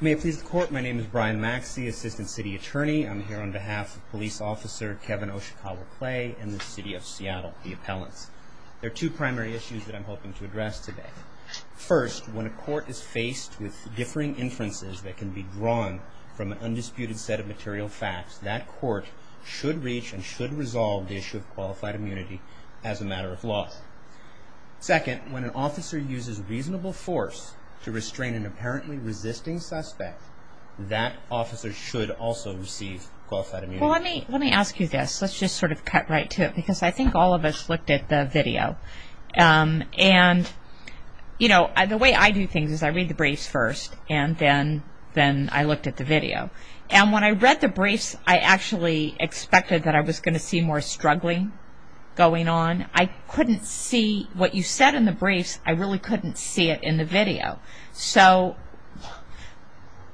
May it please the court, my name is Brian Maxey, Assistant City Attorney. I'm here on behalf of Police Officer Kevin Oshikawa Clay and the City of Seattle, the appellants. There are two primary issues that I'm hoping to address today. First, when a court is faced with differing inferences that can be drawn from an undisputed set of material facts, that court should reach and should resolve the issue of qualified immunity as a matter of law. Second, when an officer uses reasonable force to restrain an apparently resisting suspect, that officer should also receive qualified immunity. Let me ask you this, let's just sort of cut right to it because I think all of us looked at the video. The way I do things is I read the briefs first and then I looked at the video. And when I read the briefs, I actually expected that I was going to see more struggling going on. I couldn't see what you said in the briefs, I really couldn't see it in the video. So,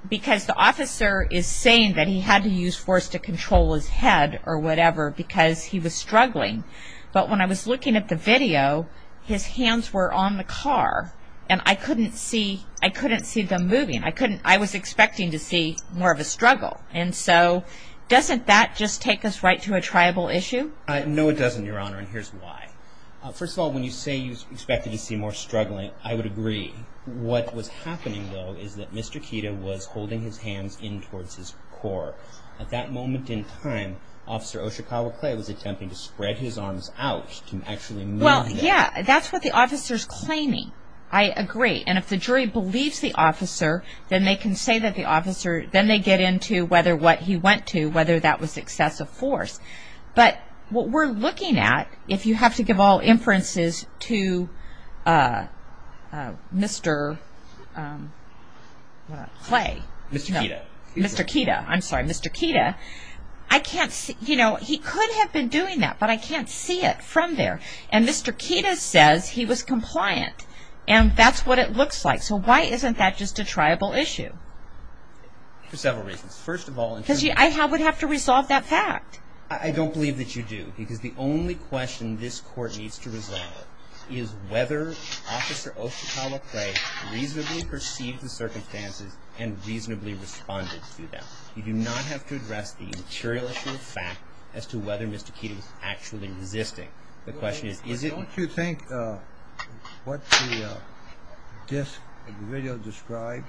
because the officer is saying that he had to use force to control his head or whatever because he was struggling. But when I was looking at the video, his hands were on the car and I couldn't see them moving. I was expecting to see more of a struggle. And so, doesn't that just take us right to a tribal issue? No, it doesn't, Your Honor, and here's why. First of all, when you say you expected to see more struggling, I would agree. What was happening, though, is that Mr. Kita was holding his hands in towards his core. At that moment in time, Officer Oshikawa Clay was attempting to spread his arms out to actually move them. Well, yeah, that's what the officer is claiming. I agree. And if the jury believes the officer, then they can say that the officer, then they get into whether what he went to, whether that was excessive force. But what we're looking at, if you have to give all inferences to Mr. Clay. Mr. Kita. Mr. Kita. I'm sorry, Mr. Kita. I can't see, you know, he could have been doing that, but I can't see it from there. And Mr. Kita says he was compliant, and that's what it looks like. So why isn't that just a tribal issue? For several reasons. First of all, in terms of. Because I would have to resolve that fact. I don't believe that you do, because the only question this Court needs to resolve is whether Officer Oshikawa Clay reasonably perceived the circumstances and reasonably responded to them. You do not have to address the material issue of fact as to whether Mr. Kita was actually resisting. The question is, is it. Don't you think what the disc of the video described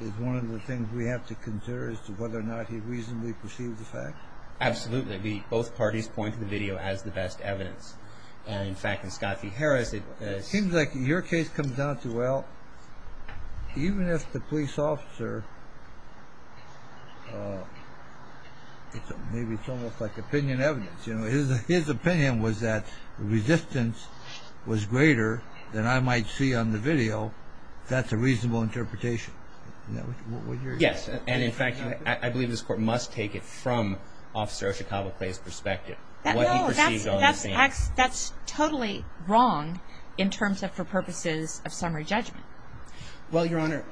is one of the things we have to consider as to whether or not he reasonably perceived the fact? Absolutely. Both parties point to the video as the best evidence. In fact, in Scott v. Harris. It seems like your case comes down to, well, even if the police officer. Maybe it's almost like opinion evidence. His opinion was that resistance was greater than I might see on the video. That's a reasonable interpretation. Yes, and in fact, I believe this Court must take it from Officer Oshikawa Clay's perspective. No, that's totally wrong in terms of for purposes of summary judgment. Well, Your Honor,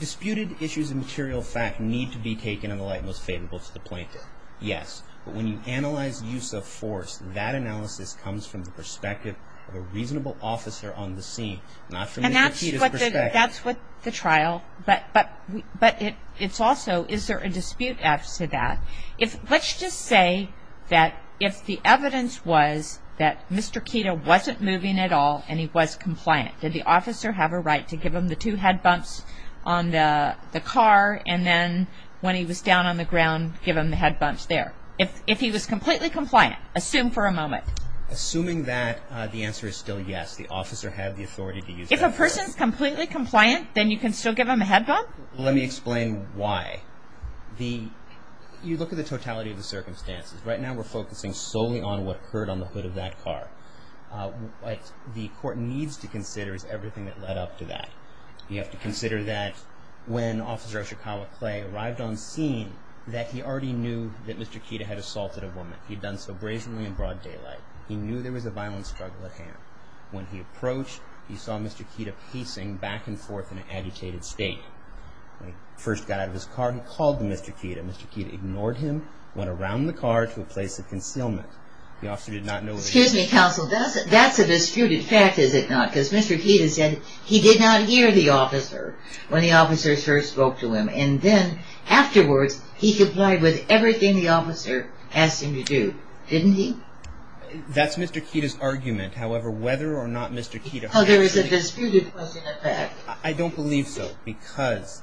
disputed issues of material fact need to be taken in the light most favorable to the plaintiff. Yes, but when you analyze use of force, that analysis comes from the perspective of a reasonable officer on the scene, not from Mr. Kita's perspective. And that's what the trial, but it's also, is there a dispute as to that? Let's just say that if the evidence was that Mr. Kita wasn't moving at all and he was compliant, did the officer have a right to give him the two head bumps on the car and then when he was down on the ground give him the head bumps there? If he was completely compliant, assume for a moment. Assuming that the answer is still yes, the officer had the authority to use that. If a person's completely compliant, then you can still give him a head bump? Let me explain why. You look at the totality of the circumstances. Right now we're focusing solely on what occurred on the hood of that car. What the court needs to consider is everything that led up to that. You have to consider that when Officer Oshikawa Clay arrived on scene, that he already knew that Mr. Kita had assaulted a woman. He'd done so brazenly in broad daylight. He knew there was a violent struggle at hand. When he approached, he saw Mr. Kita pacing back and forth in an agitated state. When he first got out of his car, he called to Mr. Kita. Mr. Kita ignored him, went around the car to a place of concealment. The officer did not know where he was. Excuse me, counsel. That's a disputed fact, is it not? Because Mr. Kita said he did not hear the officer when the officer first spoke to him and then afterwards he complied with everything the officer asked him to do, didn't he? That's Mr. Kita's argument. However, whether or not Mr. Kita... Well, there is a disputed question at that. I don't believe so because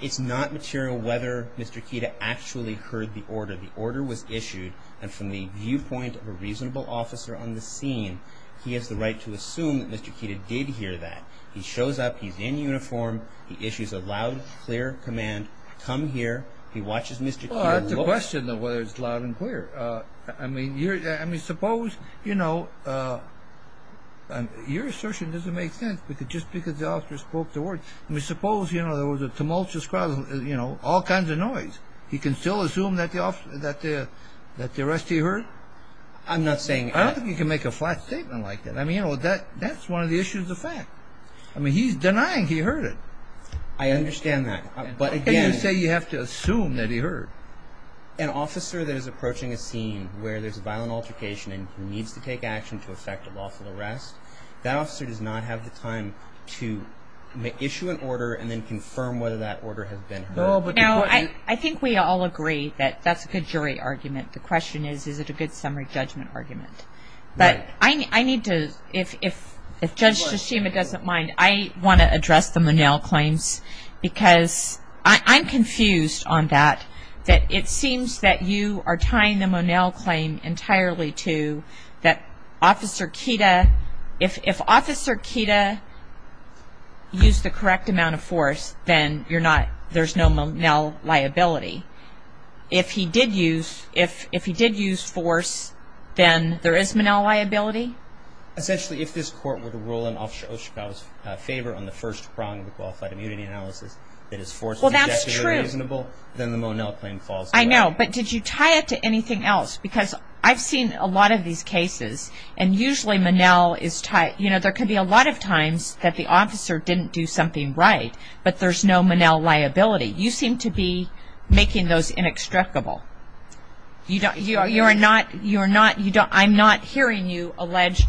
it's not material whether Mr. Kita actually heard the order. The order was issued, and from the viewpoint of a reasonable officer on the scene, he has the right to assume that Mr. Kita did hear that. He shows up, he's in uniform, he issues a loud, clear command, come here, he watches Mr. Kita. Well, that's a question of whether it's loud and clear. I mean, suppose, you know, your assertion doesn't make sense just because the officer spoke the word. I mean, suppose, you know, there was a tumultuous crowd, you know, all kinds of noise. He can still assume that the arrestee heard? I'm not saying that. I don't think you can make a flat statement like that. I mean, you know, that's one of the issues of fact. I mean, he's denying he heard it. I understand that. But again... How can you say you have to assume that he heard? An officer that is approaching a scene where there's a violent altercation and he needs to take action to effect a lawful arrest, that officer does not have the time to issue an order and then confirm whether that order has been heard. Now, I think we all agree that that's a good jury argument. The question is, is it a good summary judgment argument? But I need to, if Judge Shishima doesn't mind, I want to address the Monell claims because I'm confused on that, that it seems that you are tying the Monell claim entirely to that Officer Kida, if Officer Kida used the correct amount of force, then there's no Monell liability. If he did use force, then there is Monell liability? Essentially, if this court were to rule in Officer Oshikawa's favor on the first prong of a qualified immunity analysis, that his force is objectively reasonable, then the Monell claim falls. I know, but did you tie it to anything else? Because I've seen a lot of these cases, and usually Monell is tied, there can be a lot of times that the officer didn't do something right, but there's no Monell liability. You seem to be making those inextricable. I'm not hearing you allege,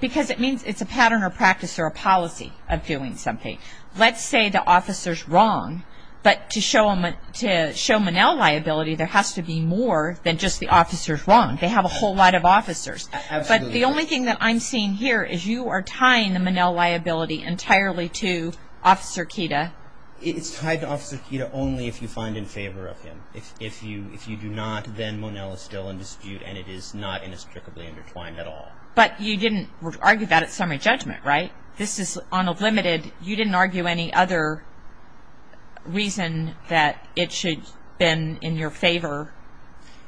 because it means it's a pattern or practice or a policy of doing something. Let's say the officer's wrong, but to show Monell liability, there has to be more than just the officer's wrong. They have a whole lot of officers. But the only thing that I'm seeing here is you are tying the Monell liability entirely to Officer Kida. It's tied to Officer Kida only if you find in favor of him. If you do not, then Monell is still in dispute, and it is not inextricably intertwined at all. But you didn't argue that at summary judgment, right? This is on a limited. You didn't argue any other reason that it should have been in your favor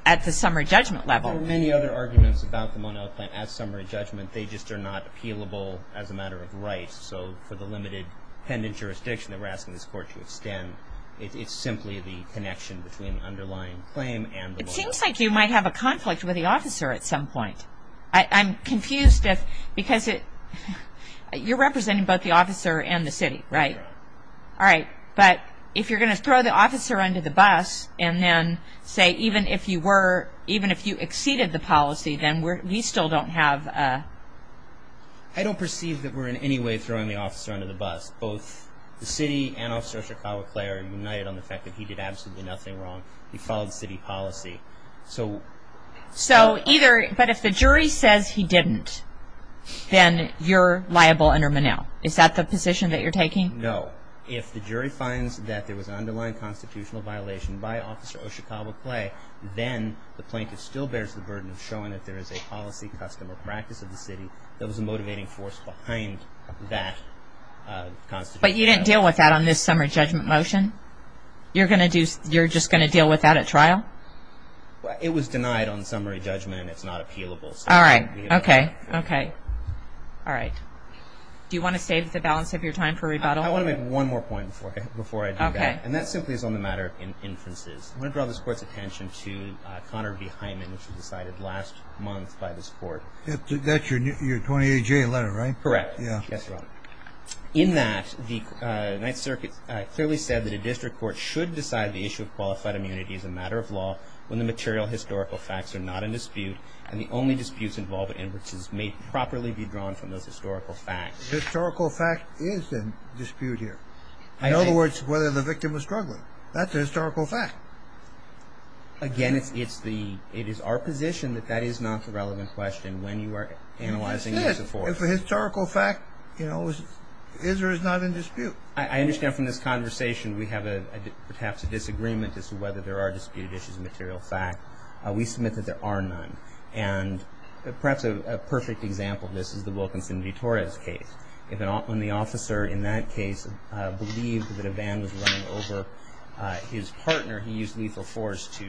at the summary judgment level. There are many other arguments about the Monell claim at summary judgment. They just are not appealable as a matter of rights. So for the limited pendant jurisdiction that we're asking this Court to extend, it's simply the connection between the underlying claim and the Monell. It seems like you might have a conflict with the officer at some point. I'm confused because you're representing both the officer and the city, right? All right. But if you're going to throw the officer under the bus and then say even if you were, even if you exceeded the policy, then we still don't have a... I don't perceive that we're in any way throwing the officer under the bus. Both the city and Officer Chikawa-Clare are united on the fact that he did absolutely nothing wrong. He followed city policy. But if the jury says he didn't, then you're liable under Monell. Is that the position that you're taking? No. If the jury finds that there was an underlying constitutional violation by Officer O'Shikawa-Clare, then the plaintiff still bears the burden of showing that there is a policy, custom, or practice of the city that was a motivating force behind that constitutional violation. But you didn't deal with that on this summary judgment motion? You're just going to deal with that at trial? It was denied on summary judgment. It's not appealable. All right. Okay. Okay. All right. Do you want to save the balance of your time for rebuttal? I want to make one more point before I do that. Okay. And that simply is on the matter of inferences. I want to draw this Court's attention to Connor B. Hyman, That's your 28-J letter, right? Correct. Yes, Your Honor. In that, the Ninth Circuit clearly said that a district court should decide the issue of qualified immunity as a matter of law when the material historical facts are not in dispute and the only disputes involving inferences may properly be drawn from those historical facts. The historical fact is in dispute here. In other words, whether the victim was struggling. That's a historical fact. Again, it is our position that that is not the relevant question when you are analyzing this report. If a historical fact, you know, is or is not in dispute. I understand from this conversation we have perhaps a disagreement as to whether there are disputed issues of material fact. We submit that there are none. And perhaps a perfect example of this is the Wilkinson v. Torres case. When the officer in that case believed that a van was running over his partner, he used lethal force to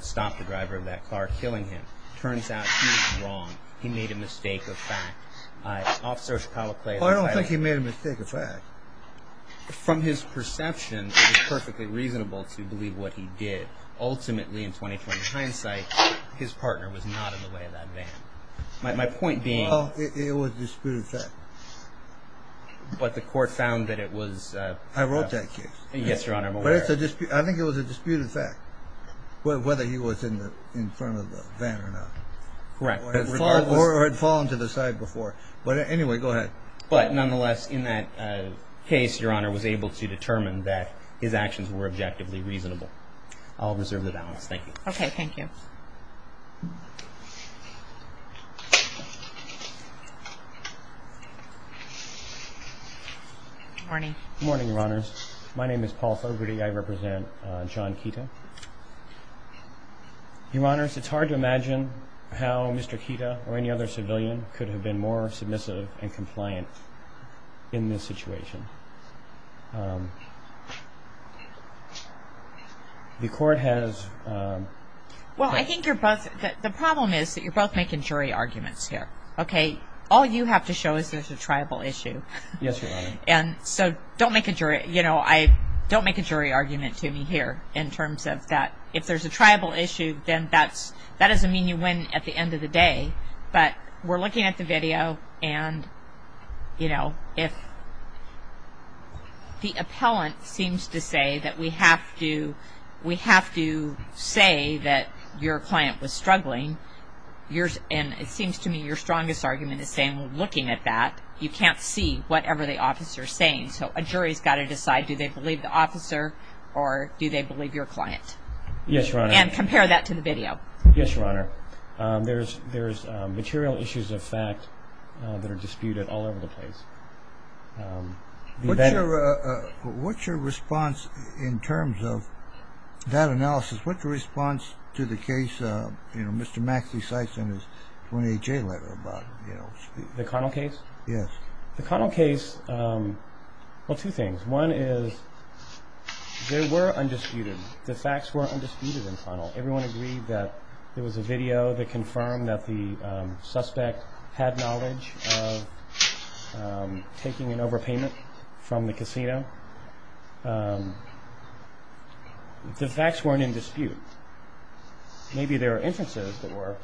stop the driver of that car killing him. It turns out he was wrong. He made a mistake of fact. Officer Palacles... Well, I don't think he made a mistake of fact. From his perception, it is perfectly reasonable to believe what he did. Ultimately, in 20-20 hindsight, his partner was not in the way of that van. My point being... Well, it was a disputed fact. But the court found that it was... I wrote that case. Yes, Your Honor. But I think it was a disputed fact, whether he was in front of the van or not. Correct. Or had fallen to the side before. But anyway, go ahead. But nonetheless, in that case, Your Honor, was able to determine that his actions were objectively reasonable. I'll reserve the balance. Thank you. Okay, thank you. Good morning. Good morning, Your Honors. My name is Paul Fogarty. I represent John Keaton. Your Honors, it's hard to imagine how Mr. Keaton or any other civilian could have been more submissive and compliant in this situation. The court has... Well, I think you're both... The problem is that you're both making jury arguments here. Okay? All you have to show is there's a tribal issue. Yes, Your Honor. And so don't make a jury argument to me here in terms of that. If there's a tribal issue, then that doesn't mean you win at the end of the day. But we're looking at the video and, you know, if the appellant seems to say that we have to say that your client was struggling, and it seems to me your strongest argument is saying, well, looking at that, you can't see whatever the officer is saying. So a jury has got to decide do they believe the officer or do they believe your client. Yes, Your Honor. And compare that to the video. Yes, Your Honor. There's material issues of fact that are disputed all over the place. What's your response in terms of that analysis? What's the response to the case, you know, Mr. Maxey-Sykes and his 28-J letter about, you know... The Connell case? Yes. The Connell case, well, two things. One is they were undisputed. The facts were undisputed in Connell. Everyone agreed that there was a video that confirmed that the suspect had knowledge of taking an overpayment from the casino. The facts weren't in dispute. Maybe there were inferences that were,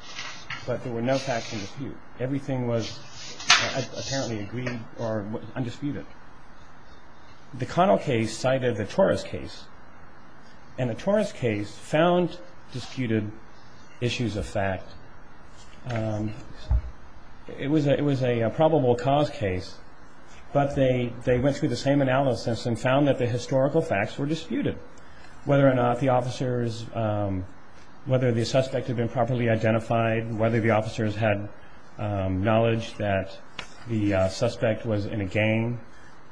but there were no facts in dispute. Everything was apparently agreed or undisputed. The Connell case cited the Torres case, and the Torres case found disputed issues of fact. It was a probable cause case, but they went through the same analysis and found that the historical facts were disputed. Whether or not the officers, whether the suspect had been properly identified, whether the officers had knowledge that the suspect was in a gang,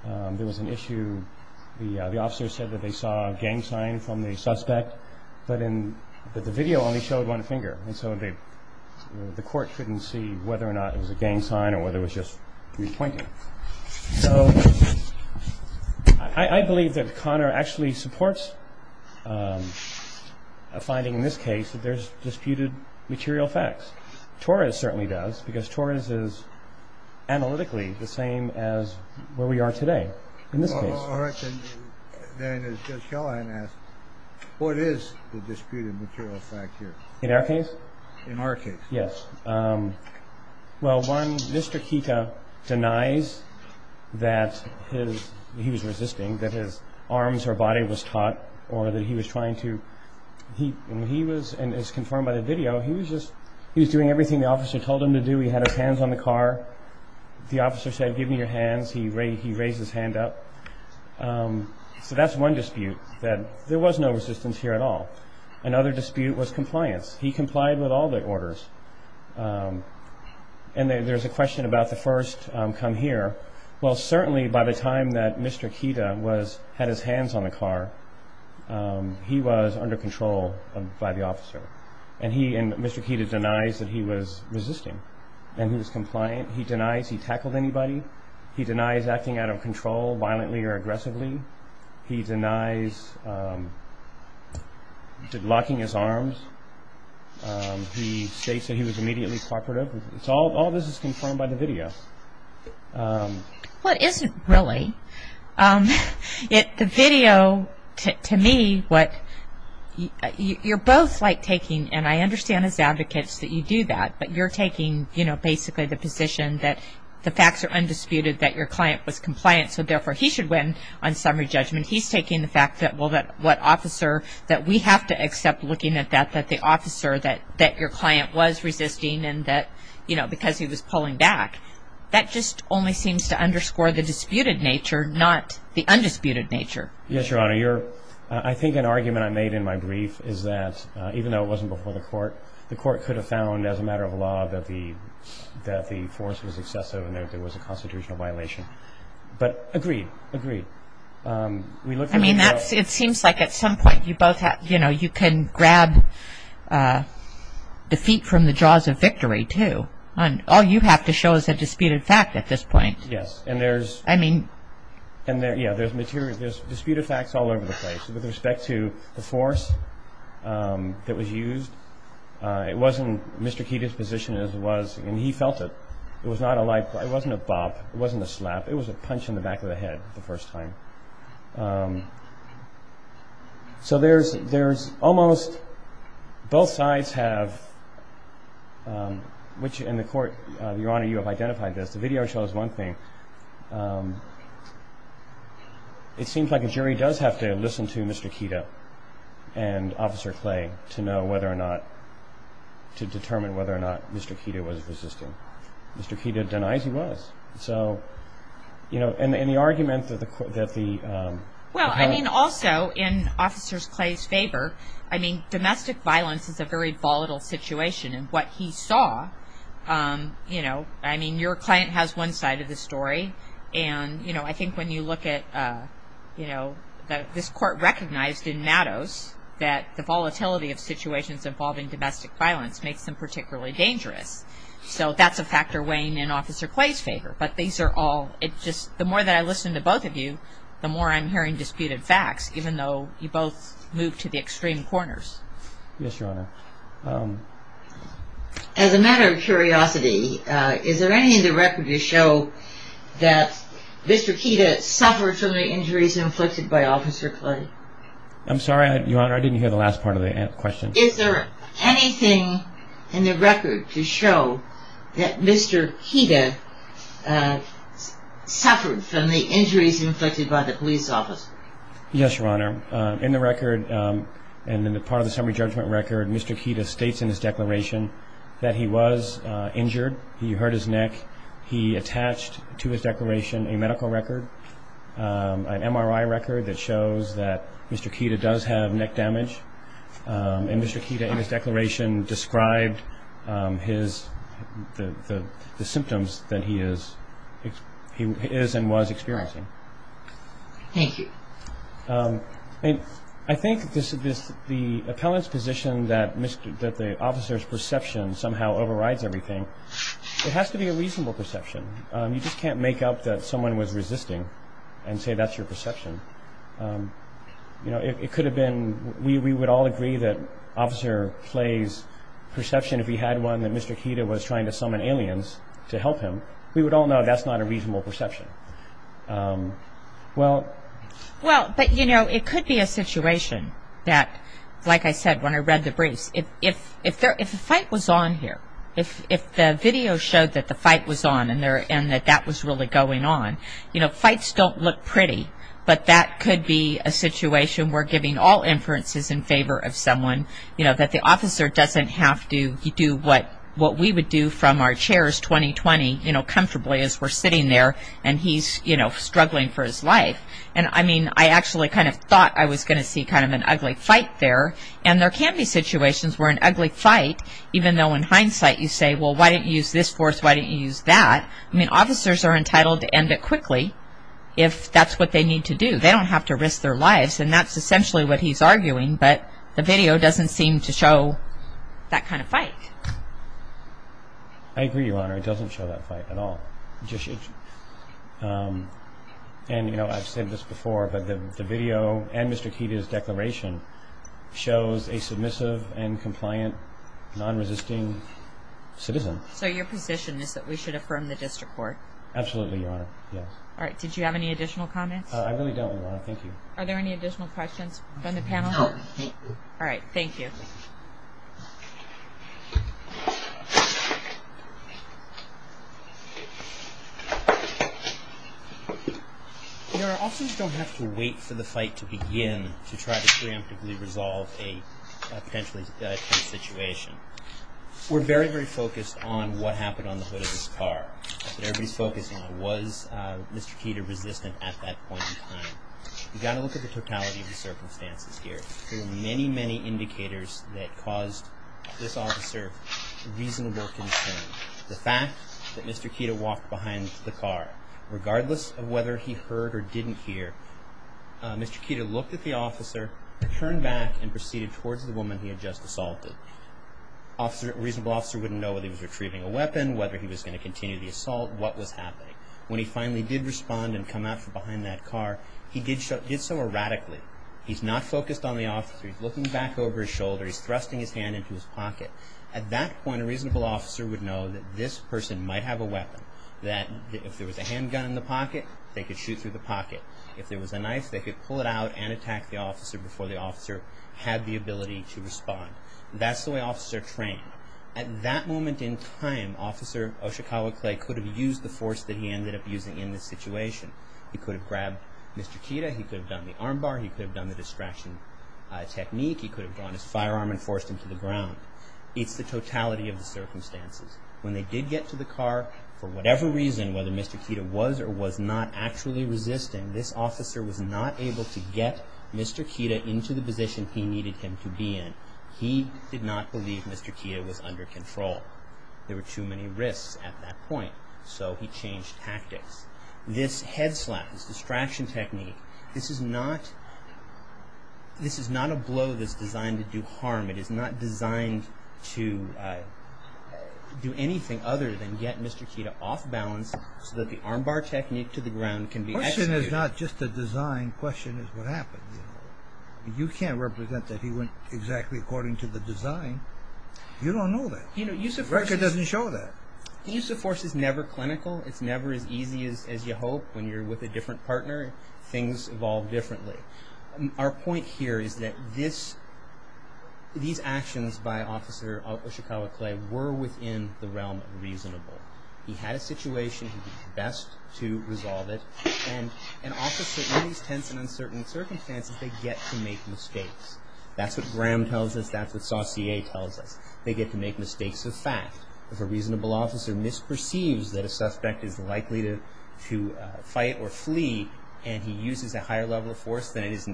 there was an issue. The officers said that they saw a gang sign from the suspect, but the video only showed one finger, and so the court couldn't see whether or not it was a gang sign or whether it was just pointing. So I believe that Connor actually supports a finding in this case that there's disputed material facts. Torres certainly does, because Torres is analytically the same as where we are today in this case. All right. Then as Judge Callahan asked, what is the disputed material fact here? In our case? In our case. Yes. Well, one, Mr. Kita denies that he was resisting, that his arms or body was taut, or that he was trying to... He was, as confirmed by the video, he was doing everything the officer told him to do. He had his hands on the car. The officer said, give me your hands. He raised his hand up. So that's one dispute, that there was no resistance here at all. Another dispute was compliance. He complied with all the orders. And there's a question about the first come here. Well, certainly by the time that Mr. Kita had his hands on the car, he was under control by the officer. And Mr. Kita denies that he was resisting and he was compliant. He denies he tackled anybody. He denies acting out of control, violently or aggressively. He denies locking his arms. He states that he was immediately cooperative. All this is confirmed by the video. Well, it isn't really. The video, to me, what you're both like taking, and I understand as advocates that you do that, but you're taking, you know, basically the position that the facts are undisputed, that your client was compliant, so therefore he should win on summary judgment. He's taking the fact that, well, that what officer that we have to accept looking at that, that the officer that your client was resisting and that, you know, because he was pulling back. That just only seems to underscore the disputed nature, not the undisputed nature. Yes, Your Honor. I think an argument I made in my brief is that even though it wasn't before the court, the court could have found as a matter of law that the force was excessive and that there was a constitutional violation, but agreed, agreed. I mean, it seems like at some point you both have, you know, you can grab defeat from the jaws of victory, too. All you have to show is a disputed fact at this point. Yes, and there's disputed facts all over the place. With respect to the force that was used, it wasn't Mr. Keating's position as it was, and he felt it. It was not a like, it wasn't a bop. It wasn't a slap. It was a punch in the back of the head the first time. So there's almost both sides have, which in the court, Your Honor, you have identified this. The video shows one thing. It seems like a jury does have to listen to Mr. Keating and Officer Clay to know whether or not, to determine whether or not Mr. Keating was resisting. Mr. Keating denies he was. So, you know, and the argument that the... Well, I mean, also in Officer Clay's favor, I mean, domestic violence is a very volatile situation, and what he saw, you know, I mean, your client has one side of the story, and, you know, I think when you look at, you know, this court recognized in Mattos that the volatility of situations involving domestic violence makes them particularly dangerous. So that's a factor weighing in Officer Clay's favor. But these are all, it just, the more that I listen to both of you, the more I'm hearing disputed facts, even though you both moved to the extreme corners. Yes, Your Honor. As a matter of curiosity, is there anything in the record to show that Mr. Keating suffered so many injuries inflicted by Officer Clay? I'm sorry, Your Honor, I didn't hear the last part of the question. Is there anything in the record to show that Mr. Keating suffered from the injuries inflicted by the police officer? Yes, Your Honor. In the record, and in the part of the summary judgment record, Mr. Keating states in his declaration that he was injured, he hurt his neck. He attached to his declaration a medical record, an MRI record that shows that Mr. Keating does have neck damage. And Mr. Keating in his declaration described his, the symptoms that he is and was experiencing. Thank you. I think the appellant's position that the officer's perception somehow overrides everything, so it has to be a reasonable perception. You just can't make up that someone was resisting and say that's your perception. You know, it could have been, we would all agree that Officer Clay's perception, if he had one, that Mr. Keating was trying to summon aliens to help him, we would all know that's not a reasonable perception. Well, but, you know, it could be a situation that, like I said when I read the briefs, if the fight was on here, if the video showed that the fight was on and that that was really going on, you know, fights don't look pretty, but that could be a situation where giving all inferences in favor of someone, you know, that the officer doesn't have to do what we would do from our chairs 20-20, you know, comfortably as we're sitting there and he's, you know, struggling for his life. And, I mean, I actually kind of thought I was going to see kind of an ugly fight there, and there can be situations where an ugly fight, even though in hindsight you say, well, why didn't you use this force, why didn't you use that? I mean, officers are entitled to end it quickly if that's what they need to do. They don't have to risk their lives, and that's essentially what he's arguing, but the video doesn't seem to show that kind of fight. I agree, Your Honor, it doesn't show that fight at all. And, you know, I've said this before, but the video and Mr. Keita's declaration shows a submissive and compliant, non-resisting citizen. So your position is that we should affirm the district court? Absolutely, Your Honor, yes. All right, did you have any additional comments? I really don't, Your Honor, thank you. Are there any additional questions from the panel? No, thank you. All right, thank you. Your Honor, officers don't have to wait for the fight to begin to try to preemptively resolve a potentially tense situation. We're very, very focused on what happened on the hood of this car that everybody's focused on. Was Mr. Keita resistant at that point in time? You've got to look at the totality of the circumstances here. There are many, many indicators that caused this officer reasonable concern. The fact that Mr. Keita walked behind the car, regardless of whether he heard or didn't hear, Mr. Keita looked at the officer, turned back, and proceeded towards the woman he had just assaulted. A reasonable officer wouldn't know whether he was retrieving a weapon, whether he was going to continue the assault, what was happening. When he finally did respond and come out from behind that car, he did so erratically. He's not focused on the officer. He's looking back over his shoulder. He's thrusting his hand into his pocket. At that point, a reasonable officer would know that this person might have a weapon, that if there was a handgun in the pocket, they could shoot through the pocket. If there was a knife, they could pull it out and attack the officer before the officer had the ability to respond. That's the way officers are trained. At that moment in time, Officer Oshikawa Clay could have used the force that he ended up using in this situation. He could have grabbed Mr. Keita. He could have done the armbar. He could have done the distraction technique. He could have drawn his firearm and forced him to the ground. It's the totality of the circumstances. When they did get to the car, for whatever reason, whether Mr. Keita was or was not actually resisting, this officer was not able to get Mr. Keita into the position he needed him to be in. He did not believe Mr. Keita was under control. There were too many risks at that point, so he changed tactics. This head slap, this distraction technique, this is not a blow that's designed to do harm. It is not designed to do anything other than get Mr. Keita off balance so that the armbar technique to the ground can be executed. The question is not just the design. The question is what happened. You can't represent that he went exactly according to the design. You don't know that. The record doesn't show that. The use of force is never clinical. It's never as easy as you hope when you're with a different partner. Things evolve differently. Our point here is that these actions by Officer Ishikawa Clay were within the realm of reasonable. He had a situation. He did his best to resolve it. An officer in these tense and uncertain circumstances, they get to make mistakes. That's what Graham tells us. That's what Saucier tells us. They get to make mistakes of fact. If a reasonable officer misperceives that a suspect is likely to fight or flee, and he uses a higher level of force than is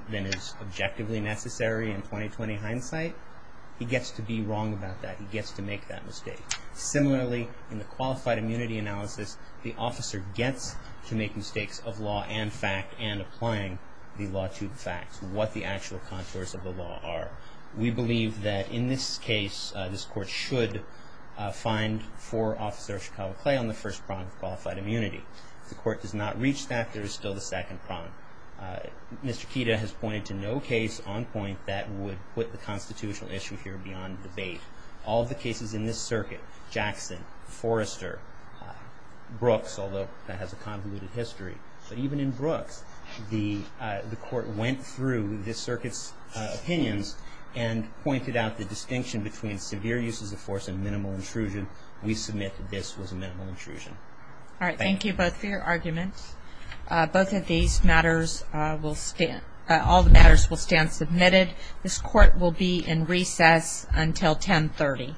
objectively necessary in 20-20 hindsight, he gets to be wrong about that. He gets to make that mistake. Similarly, in the qualified immunity analysis, the officer gets to make mistakes of law and fact and applying the law to the facts, what the actual contours of the law are. We believe that in this case, this court should find for Officer Ishikawa Clay on the first prong of qualified immunity. If the court does not reach that, there is still the second prong. Mr. Kita has pointed to no case on point that would put the constitutional issue here beyond debate. All of the cases in this circuit, Jackson, Forrester, Brooks, although that has a convoluted history, but even in Brooks, the court went through this circuit's opinions and pointed out the distinction between severe uses of force and minimal intrusion. We submit that this was a minimal intrusion. All right. Thank you both for your arguments. Both of these matters will stand. All the matters will stand submitted. This court will be in recess until 1030.